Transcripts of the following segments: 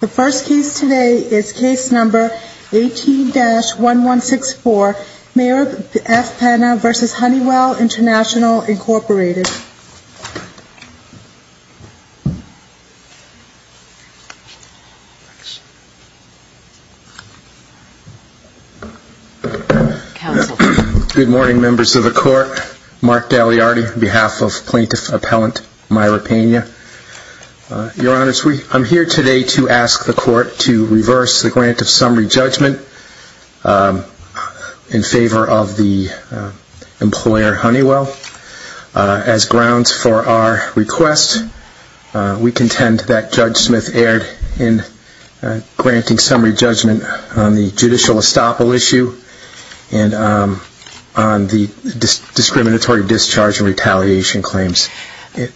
The first case today is Case No. 18-1164, Mayor F. Pena v. Honeywell International, Inc. Good morning, Members of the Court. Mark Daliardi on behalf of Plaintiff Appellant Myra Pena. Your Honors, I'm here today to ask the Court to reverse the grant of summary judgment in favor of the employer Honeywell. As grounds for our request, we contend that Judge Smith erred in granting summary judgment on the judicial estoppel issue and on the discriminatory discharge and retaliation claims.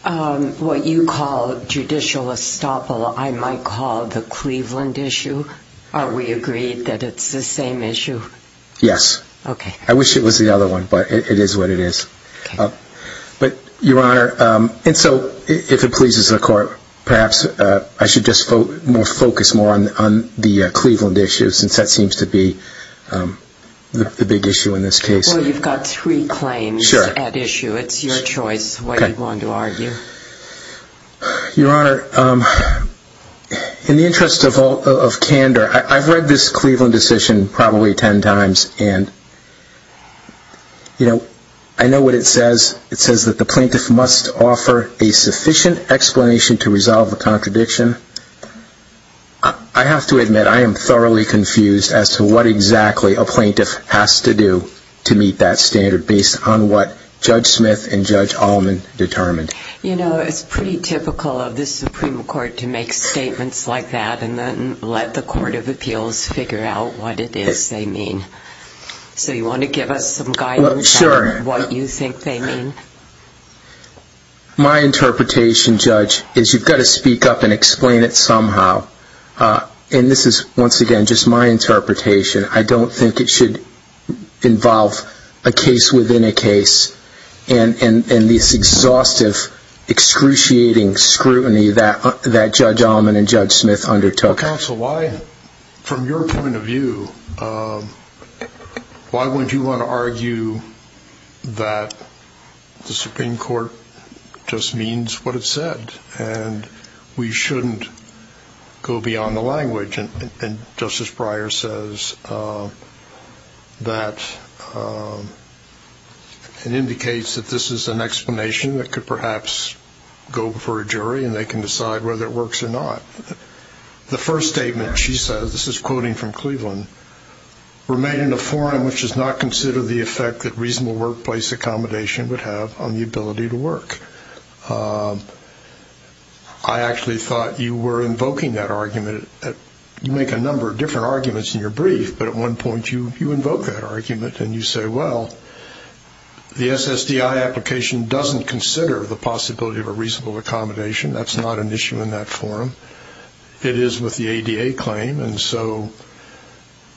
What you call judicial estoppel, I might call the Cleveland issue. Are we agreed that it's the same issue? Yes. I wish it was the other one, but it is what it is. Your Honor, if it pleases the Court, perhaps I should just focus more on the Cleveland issue, since that seems to be the big issue in this case. Well, you've got three claims at issue. It's your choice what you want to argue. Your Honor, in the interest of candor, I've read this Cleveland decision probably ten times, and I know what it says. It says that the plaintiff must offer a sufficient explanation to resolve the contradiction. I have to admit, I am thoroughly confused as to what exactly a plaintiff has to do to meet that standard, based on what Judge Smith and Judge Allman determined. You know, it's pretty typical of the Supreme Court to make statements like that and then let the Court of Appeals figure out what it is they mean. So you want to give us some guidance on what you think they mean? My interpretation, Judge, is you've got to speak up and explain it somehow. And this is, once again, just my interpretation. I don't think it should involve a case within a case and this exhaustive, excruciating scrutiny that Judge Allman and Judge Smith undertook. Counsel, from your point of view, why would you want to argue that the Supreme Court just means what it said and we shouldn't go beyond the language? And Justice Breyer says that it indicates that this is an explanation that could perhaps go before a jury and they can decide whether it works or not. The first statement she says, this is quoting from Cleveland, we're made in a forum which does not consider the effect that reasonable workplace accommodation would have on the ability to work. I actually thought you were invoking that argument. You make a number of different arguments in your brief, but at one point you invoke that argument and you say, well, the SSDI application doesn't consider the possibility of a reasonable accommodation. That's not an issue in that forum. It is with the ADA claim, and so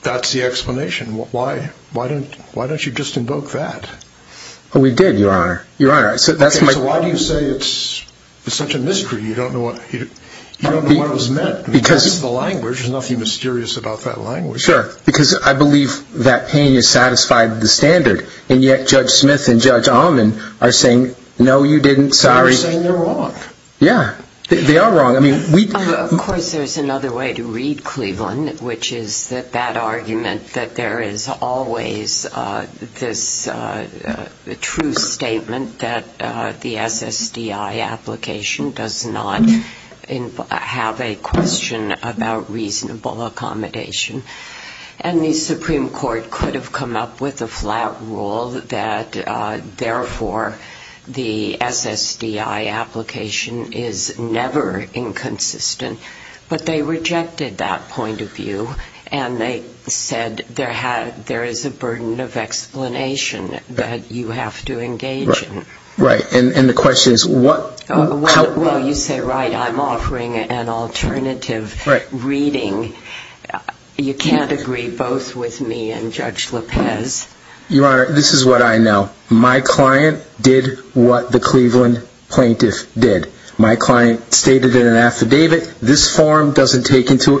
that's the explanation. Why don't you just invoke that? We did, Your Honor. So why do you say it's such a mystery? You don't know what it was meant. It's just the language. There's nothing mysterious about that language. Sure, because I believe that pain has satisfied the standard, and yet Judge Smith and Judge Ahman are saying, no, you didn't, sorry. They're saying they're wrong. Yeah. They are wrong. Of course, there's another way to read Cleveland, which is that that argument that there is always this true statement that the SSDI application does not have a question about reasonable accommodation. And the Supreme Court could have come up with a flat rule that, therefore, the SSDI application is never inconsistent. But they rejected that point of view, and they said there is a burden of explanation that you have to engage in. Right. And the question is what? Well, you say, right, I'm offering an alternative reading. You can't agree both with me and Judge Lopez. Your Honor, this is what I know. My client did what the Cleveland plaintiff did. My client stated in an affidavit, this form doesn't take into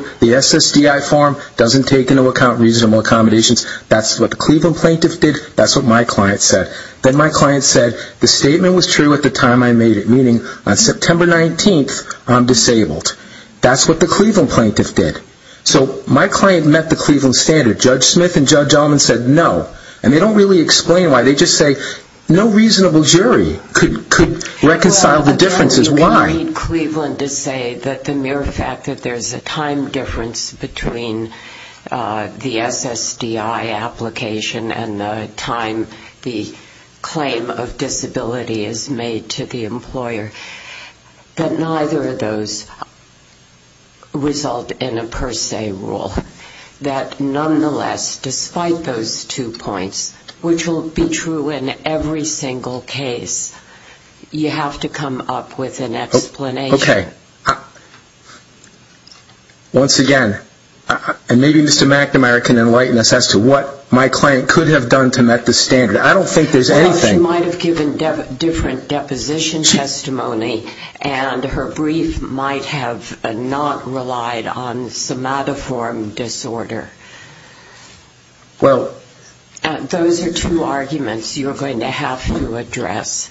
account reasonable accommodations. That's what the Cleveland plaintiff did. That's what my client said. Then my client said, the statement was true at the time I made it, meaning on September 19th, I'm disabled. That's what the Cleveland plaintiff did. So my client met the Cleveland standard. Judge Smith and Judge Allman said no. And they don't really explain why. They just say no reasonable jury could reconcile the differences. Why? Well, you can read Cleveland to say that the mere fact that there's a time difference between the SSDI application and the time the claim of disability is made to the employer, that neither of those result in a per se rule. That nonetheless, despite those two points, which will be true in every single case, you have to come up with an explanation. Okay. Once again, and maybe Mr. McNamara can enlighten us as to what my client could have done to met the standard. I don't think there's anything. She might have given different deposition testimony, and her brief might have not relied on somatoform disorder. Well... Those are two arguments you're going to have to address.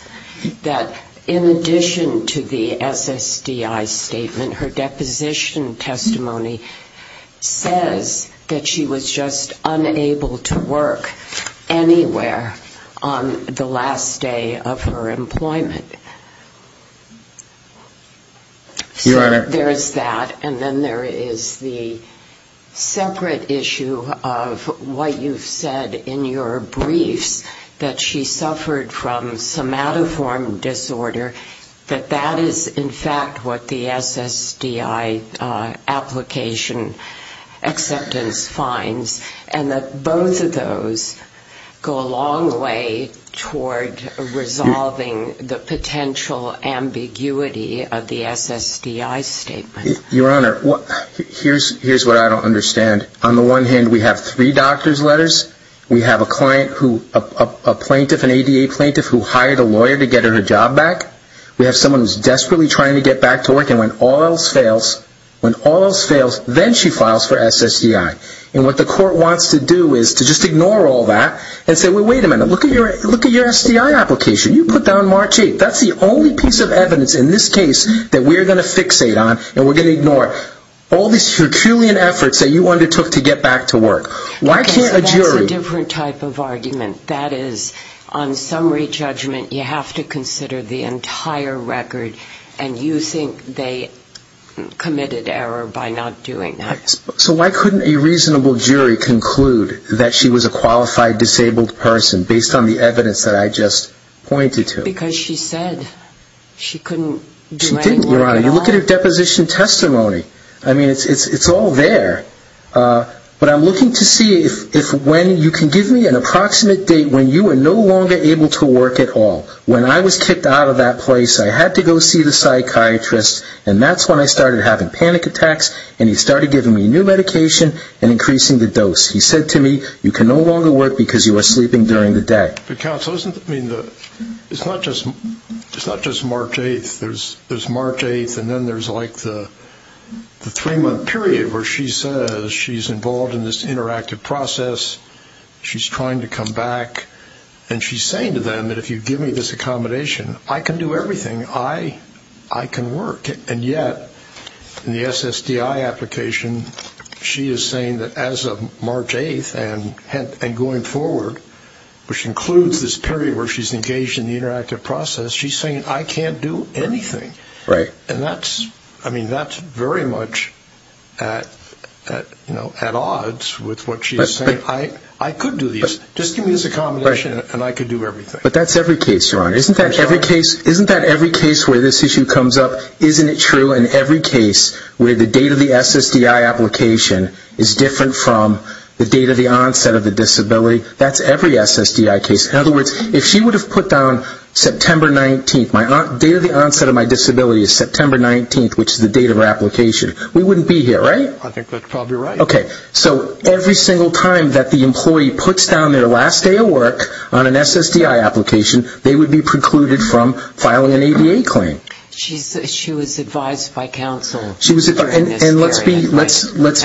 That in addition to the SSDI statement, her deposition testimony says that she was just unable to work anywhere on the last day of her employment. Your Honor... There's that, and then there is the separate issue of what you've said in your briefs, that she suffered from somatoform disorder, that that is in fact what the SSDI application acceptance finds, and that both of those go a long way toward resolving the potential ambiguity of the SSDI statement. Your Honor, here's what I don't understand. On the one hand, we have three doctor's letters. We have a client who, a plaintiff, an ADA plaintiff who hired a lawyer to get her job back. We have someone who's desperately trying to get back to work, and when all else fails, when all else fails, then she files for SSDI. And what the court wants to do is to just ignore all that and say, wait a minute, look at your SSDI application. You put down March 8th. That's the only piece of evidence in this case that we're going to fixate on, and we're going to ignore all these Herculean efforts that you undertook to get back to work. Why can't a jury... Okay, so that's a different type of argument. That is, on summary judgment, you have to consider the entire record, and you think they committed error by not doing that. So why couldn't a reasonable jury conclude that she was a qualified disabled person based on the evidence that I just pointed to? Because she said she couldn't do any work at all. She didn't, Your Honor. You look at her deposition testimony. I mean, it's all there. But I'm looking to see if when you can give me an approximate date when you were no longer able to work at all. When I was kicked out of that place, I had to go see the psychiatrist, and that's when I started having panic attacks, and he started giving me new medication and increasing the dose. He said to me, you can no longer work because you were sleeping during the day. But, counsel, it's not just March 8th. There's March 8th, and then there's like the three-month period where she says she's involved in this interactive process. She's trying to come back, and she's saying to them that if you give me this accommodation, I can do everything. I can work. And yet, in the SSDI application, she is saying that as of March 8th and going forward, which includes this period where she's engaged in the interactive process, she's saying I can't do anything. Right. And that's very much at odds with what she's saying. I could do this. Just give me this accommodation, and I could do everything. But that's every case, Your Honor. Isn't that every case where this issue comes up? Isn't it true in every case where the date of the SSDI application is different from the date of the onset of the disability? That's every SSDI case. In other words, if she would have put down September 19th, my date of the onset of my disability is September 19th, which is the date of her application, we wouldn't be here, right? I think that's probably right. Okay, so every single time that the employee puts down their last day of work on an SSDI application, they would be precluded from filing an ADA claim. She was advised by counsel during this period. And let's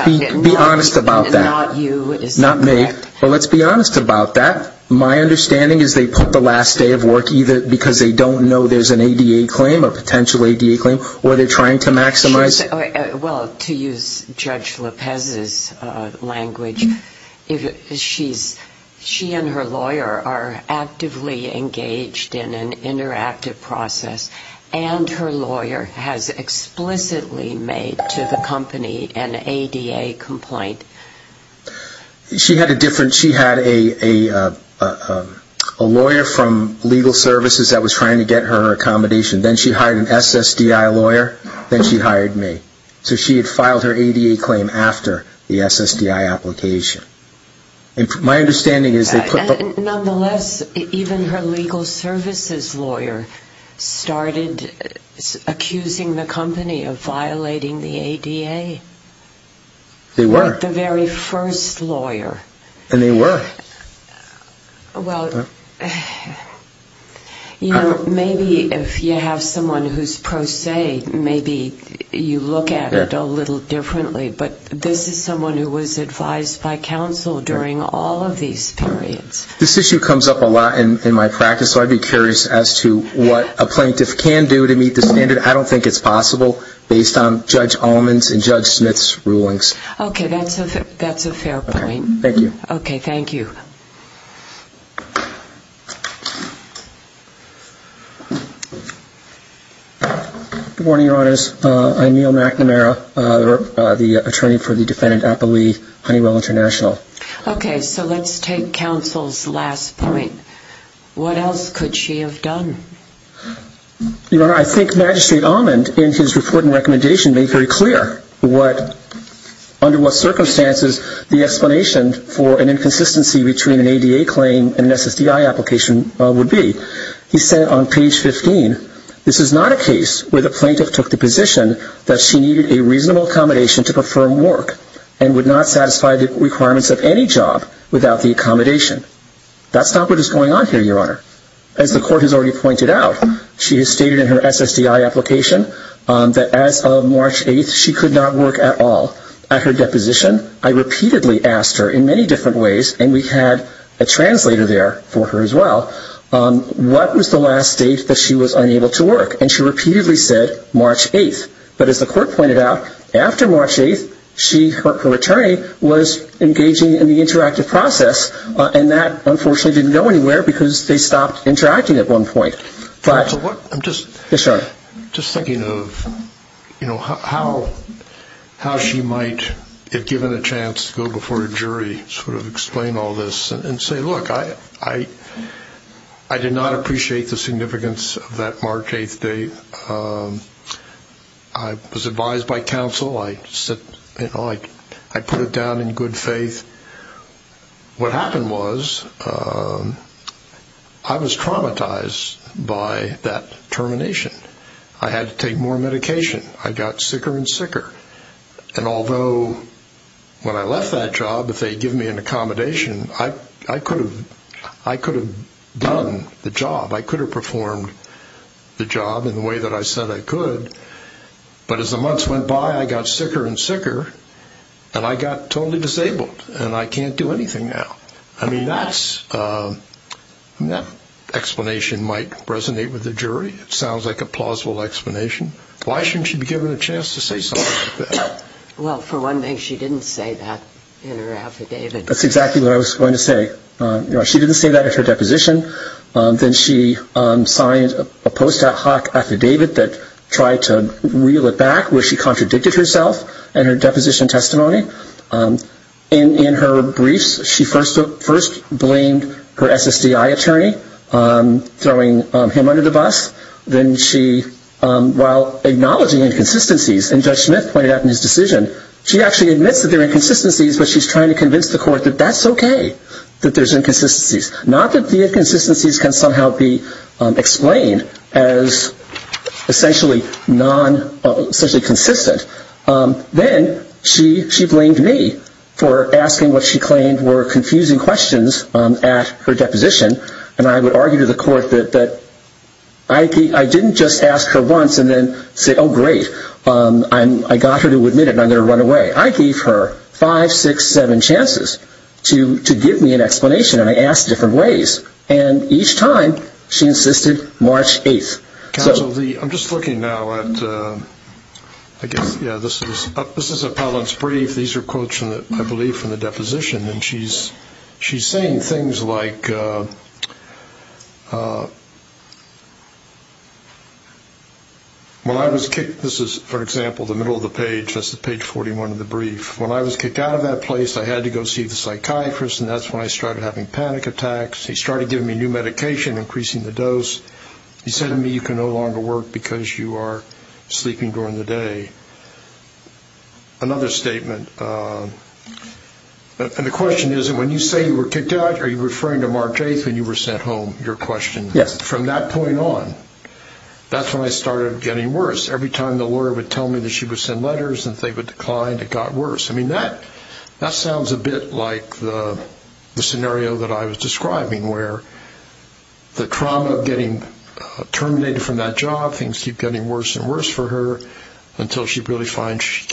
be honest about that. Not you. Not me. But let's be honest about that. My understanding is they put the last day of work either because they don't know there's an ADA claim, a potential ADA claim, or they're trying to maximize. Well, to use Judge Lopez's language, she and her lawyer are actively engaged in an interactive process, and her lawyer has explicitly made to the company an ADA complaint. She had a lawyer from legal services that was trying to get her accommodation. Then she hired an SSDI lawyer, then she hired me. So she had filed her ADA claim after the SSDI application. My understanding is they put the... Nonetheless, even her legal services lawyer started accusing the company of violating the ADA. They were. The very first lawyer. And they were. Well, you know, maybe if you have someone who's pro se, maybe you look at it a little differently. But this is someone who was advised by counsel during all of these periods. This issue comes up a lot in my practice, so I'd be curious as to what a plaintiff can do to meet the standard. I don't think it's possible based on Judge Allman's and Judge Smith's rulings. Okay, that's a fair point. Thank you. Okay, thank you. Good morning, Your Honors. I'm Neal McNamara, the attorney for the defendant Appley Honeywell International. Okay, so let's take counsel's last point. What else could she have done? Your Honor, I think Magistrate Allman, in his report and recommendation, made very clear under what circumstances the explanation for an inconsistency between an ADA claim and an SSDI application would be. He said on page 15, this is not a case where the plaintiff took the position that she needed a reasonable accommodation to perform work and would not satisfy the requirements of any job without the accommodation. That's not what is going on here, Your Honor. As the court has already pointed out, she has stated in her SSDI application that as of March 8th, she could not work at all. At her deposition, I repeatedly asked her in many different ways, and we had a translator there for her as well, what was the last date that she was unable to work? And she repeatedly said March 8th. But as the court pointed out, after March 8th, her attorney was engaging in the interactive process, and that unfortunately didn't go anywhere because they stopped interacting at one point. I'm just thinking of how she might have given a chance to go before a jury, sort of explain all this, and say, look, I did not appreciate the significance of that March 8th date. I was advised by counsel. I put it down in good faith. What happened was I was traumatized by that termination. I had to take more medication. I got sicker and sicker. And although when I left that job, if they had given me an accommodation, I could have done the job. I could have performed the job in the way that I said I could. But as the months went by, I got sicker and sicker, and I got totally disabled, and I can't do anything now. I mean, that explanation might resonate with the jury. It sounds like a plausible explanation. Why shouldn't she be given a chance to say something like that? Well, for one thing, she didn't say that in her affidavit. That's exactly what I was going to say. She didn't say that at her deposition. Then she signed a post hoc affidavit that tried to reel it back, where she contradicted herself in her deposition testimony. In her briefs, she first blamed her SSDI attorney, throwing him under the bus. Then she, while acknowledging inconsistencies, and Judge Smith pointed out in his decision, she actually admits that there are inconsistencies, but she's trying to convince the court that that's okay, that there's inconsistencies. Not that the inconsistencies can somehow be explained as essentially consistent. Then she blamed me for asking what she claimed were confusing questions at her deposition, and I would argue to the court that I didn't just ask her once and then say, oh, great, I got her to admit it and I'm going to run away. I gave her five, six, seven chances to give me an explanation, and I asked different ways. And each time, she insisted March 8th. Counsel, I'm just looking now at, I guess, yeah, this is a Pallant's brief. These are quotes, I believe, from the deposition, and she's saying things like, this is, for example, the middle of the page, that's page 41 of the brief. When I was kicked out of that place, I had to go see the psychiatrist, and that's when I started having panic attacks. He started giving me new medication, increasing the dose. He said to me, you can no longer work because you are sleeping during the day. Another statement, and the question is, when you say you were kicked out, are you referring to March 8th when you were sent home? From that point on, that's when I started getting worse. Every time the lawyer would tell me that she would send letters and they would decline, it got worse. I mean, that sounds a bit like the scenario that I was describing, where the trauma of getting terminated from that job, things keep getting worse and worse for her, until she really finds she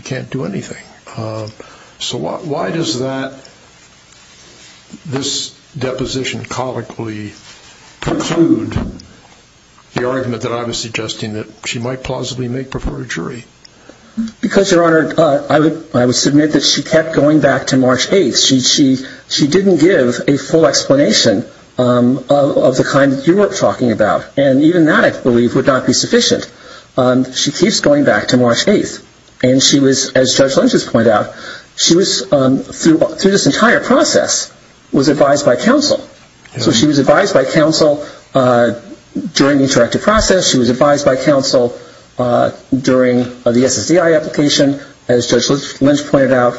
can't do anything. So why does this deposition colloquially preclude the argument that I was suggesting that she might plausibly make before a jury? Because, Your Honor, I would submit that she kept going back to March 8th. She didn't give a full explanation of the kind that you were talking about, and even that, I believe, would not be sufficient. She keeps going back to March 8th, and she was, as Judge Lynch has pointed out, she was, through this entire process, was advised by counsel. So she was advised by counsel during the interactive process. She was advised by counsel during the SSDI application. As Judge Lynch pointed out,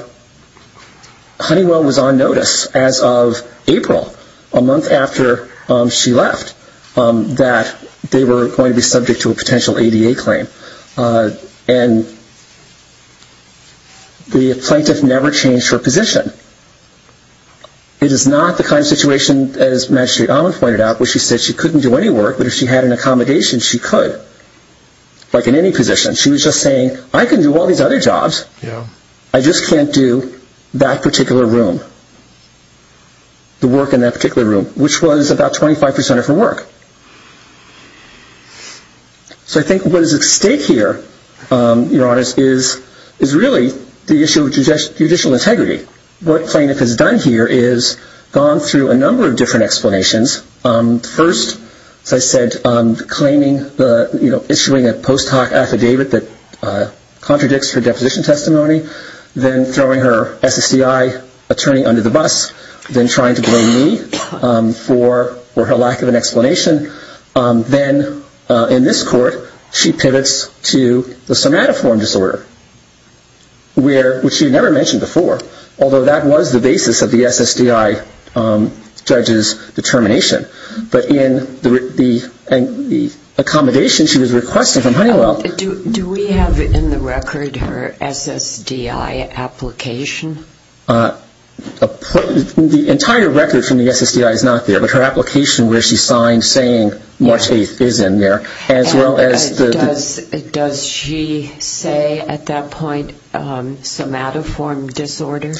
Honeywell was on notice as of April, a month after she left, that they were going to be subject to a potential ADA claim. And the plaintiff never changed her position. It is not the kind of situation, as Magistrate Allman pointed out, where she said she couldn't do any work, but if she had an accommodation, she could, like in any position. She was just saying, I can do all these other jobs. I just can't do that particular room, the work in that particular room, which was about 25% of her work. So I think what is at stake here, Your Honors, is really the issue of judicial integrity. What the plaintiff has done here is gone through a number of different explanations. First, as I said, claiming, issuing a post hoc affidavit that contradicts her deposition testimony, then throwing her SSDI attorney under the bus, then trying to blame me for her lack of an explanation. Then in this court, she pivots to the somatiform disorder, which she had never mentioned before, although that was the basis of the SSDI judge's determination. But in the accommodation she was requesting from Honeywell... Do we have in the record her SSDI application? The entire record from the SSDI is not there, but her application where she signed saying March 8th is in there. Does she say at that point somatiform disorder?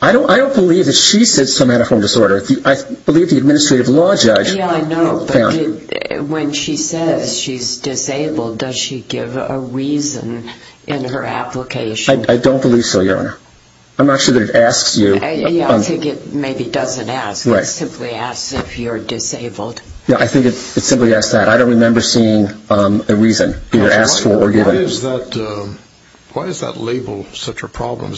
I don't believe that she said somatiform disorder. I believe the administrative law judge found... Yeah, I know, but when she says she's disabled, does she give a reason in her application? I don't believe so, Your Honor. I'm not sure that it asks you... Yeah, I think it maybe doesn't ask. It simply asks if you're disabled. Yeah, I think it simply asks that. I don't remember seeing a reason, either asked for or given. Why is that label such a problem?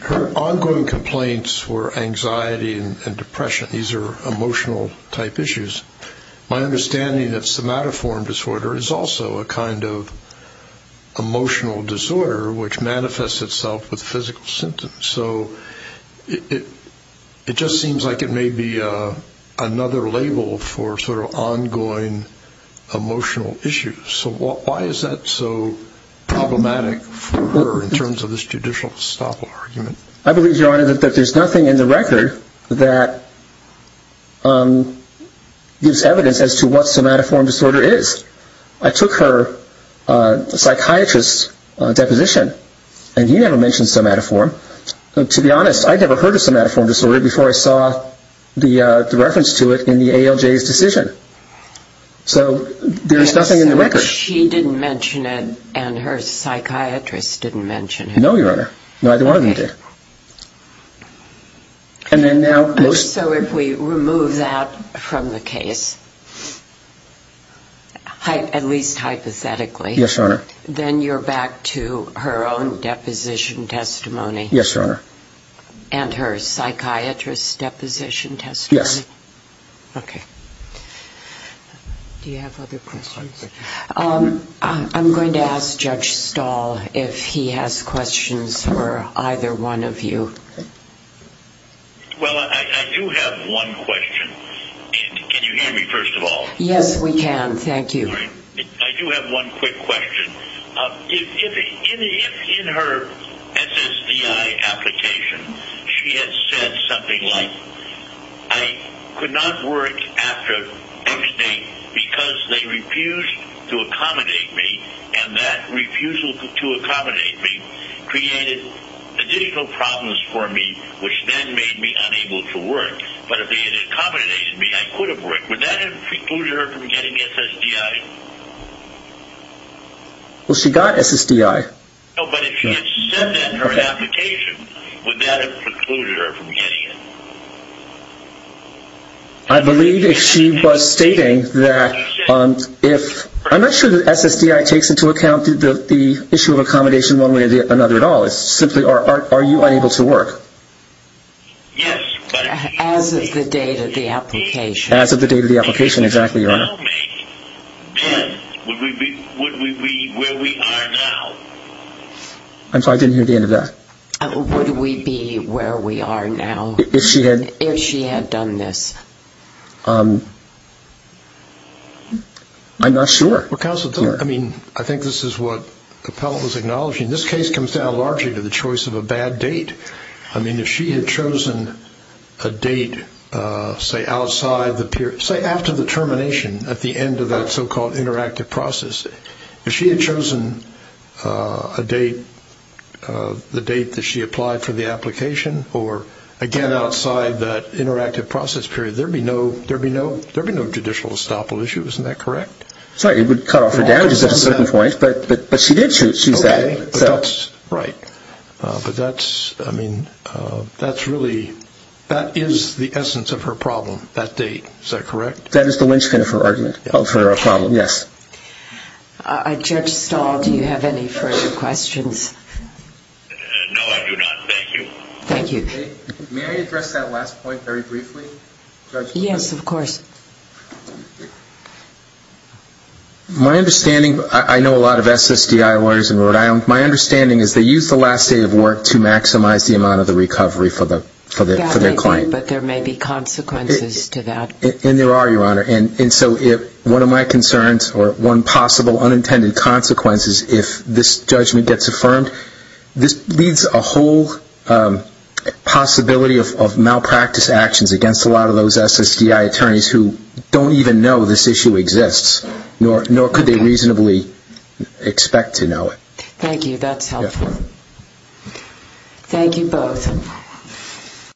Her ongoing complaints were anxiety and depression. These are emotional-type issues. My understanding is that somatiform disorder is also a kind of emotional disorder, which manifests itself with physical symptoms. So it just seems like it may be another label for sort of ongoing emotional issues. So why is that so problematic for her in terms of this judicial estoppel argument? I believe, Your Honor, that there's nothing in the record that gives evidence as to what somatiform disorder is. I took her psychiatrist's deposition, and he never mentioned somatiform. To be honest, I'd never heard of somatiform disorder before I saw the reference to it in the ALJ's decision. So there's nothing in the record. So she didn't mention it, and her psychiatrist didn't mention it? No, Your Honor. Neither one of them did. So if we remove that from the case, at least hypothetically, then you're back to her own deposition testimony? Yes, Your Honor. And her psychiatrist's deposition testimony? Yes. Okay. Do you have other questions? I'm going to ask Judge Stahl if he has questions for either one of you. Well, I do have one question. Can you hear me, first of all? Yes, we can. Thank you. I do have one quick question. If in her SSDI application she had said something like, I could not work after X date because they refused to accommodate me, and that refusal to accommodate me created additional problems for me, which then made me unable to work. But if they had accommodated me, I could have worked. Would that have precluded her from getting SSDI? Well, she got SSDI. No, but if she had said that in her application, would that have precluded her from getting it? I believe if she was stating that if ‑‑ I'm not sure that SSDI takes into account the issue of accommodation one way or another at all. It's simply, are you unable to work? Yes. As of the date of the application. As of the date of the application, exactly, Your Honor. Can you tell me, then, would we be where we are now? I'm sorry, I didn't hear the end of that. Would we be where we are now? If she had ‑‑ If she had done this. I'm not sure. Well, counsel, I mean, I think this is what the appellant was acknowledging. This case comes down largely to the choice of a bad date. I mean, if she had chosen a date, say, outside the ‑‑ say, after the termination, at the end of that so‑called interactive process. If she had chosen a date, the date that she applied for the application, or, again, outside that interactive process period, there would be no judicial estoppel issue. Isn't that correct? Sorry, it would cut off her damages at a certain point. But she did choose that. Right. But that's, I mean, that's really ‑‑ that is the essence of her problem, that date. Is that correct? That is the lynchpin of her argument, of her problem, yes. Judge Stahl, do you have any further questions? No, I do not. Thank you. Thank you. May I address that last point very briefly? Yes, of course. My understanding, I know a lot of SSDI lawyers in Rhode Island, my understanding is they use the last day of work to maximize the amount of the recovery for their client. Yes, they do, but there may be consequences to that. And there are, Your Honor. And so one of my concerns, or one possible unintended consequence is if this judgment gets affirmed, this leaves a whole possibility of malpractice actions against a lot of those SSDI attorneys who don't even know this issue exists, nor could they reasonably expect to know it. Thank you. That's helpful. Thank you both.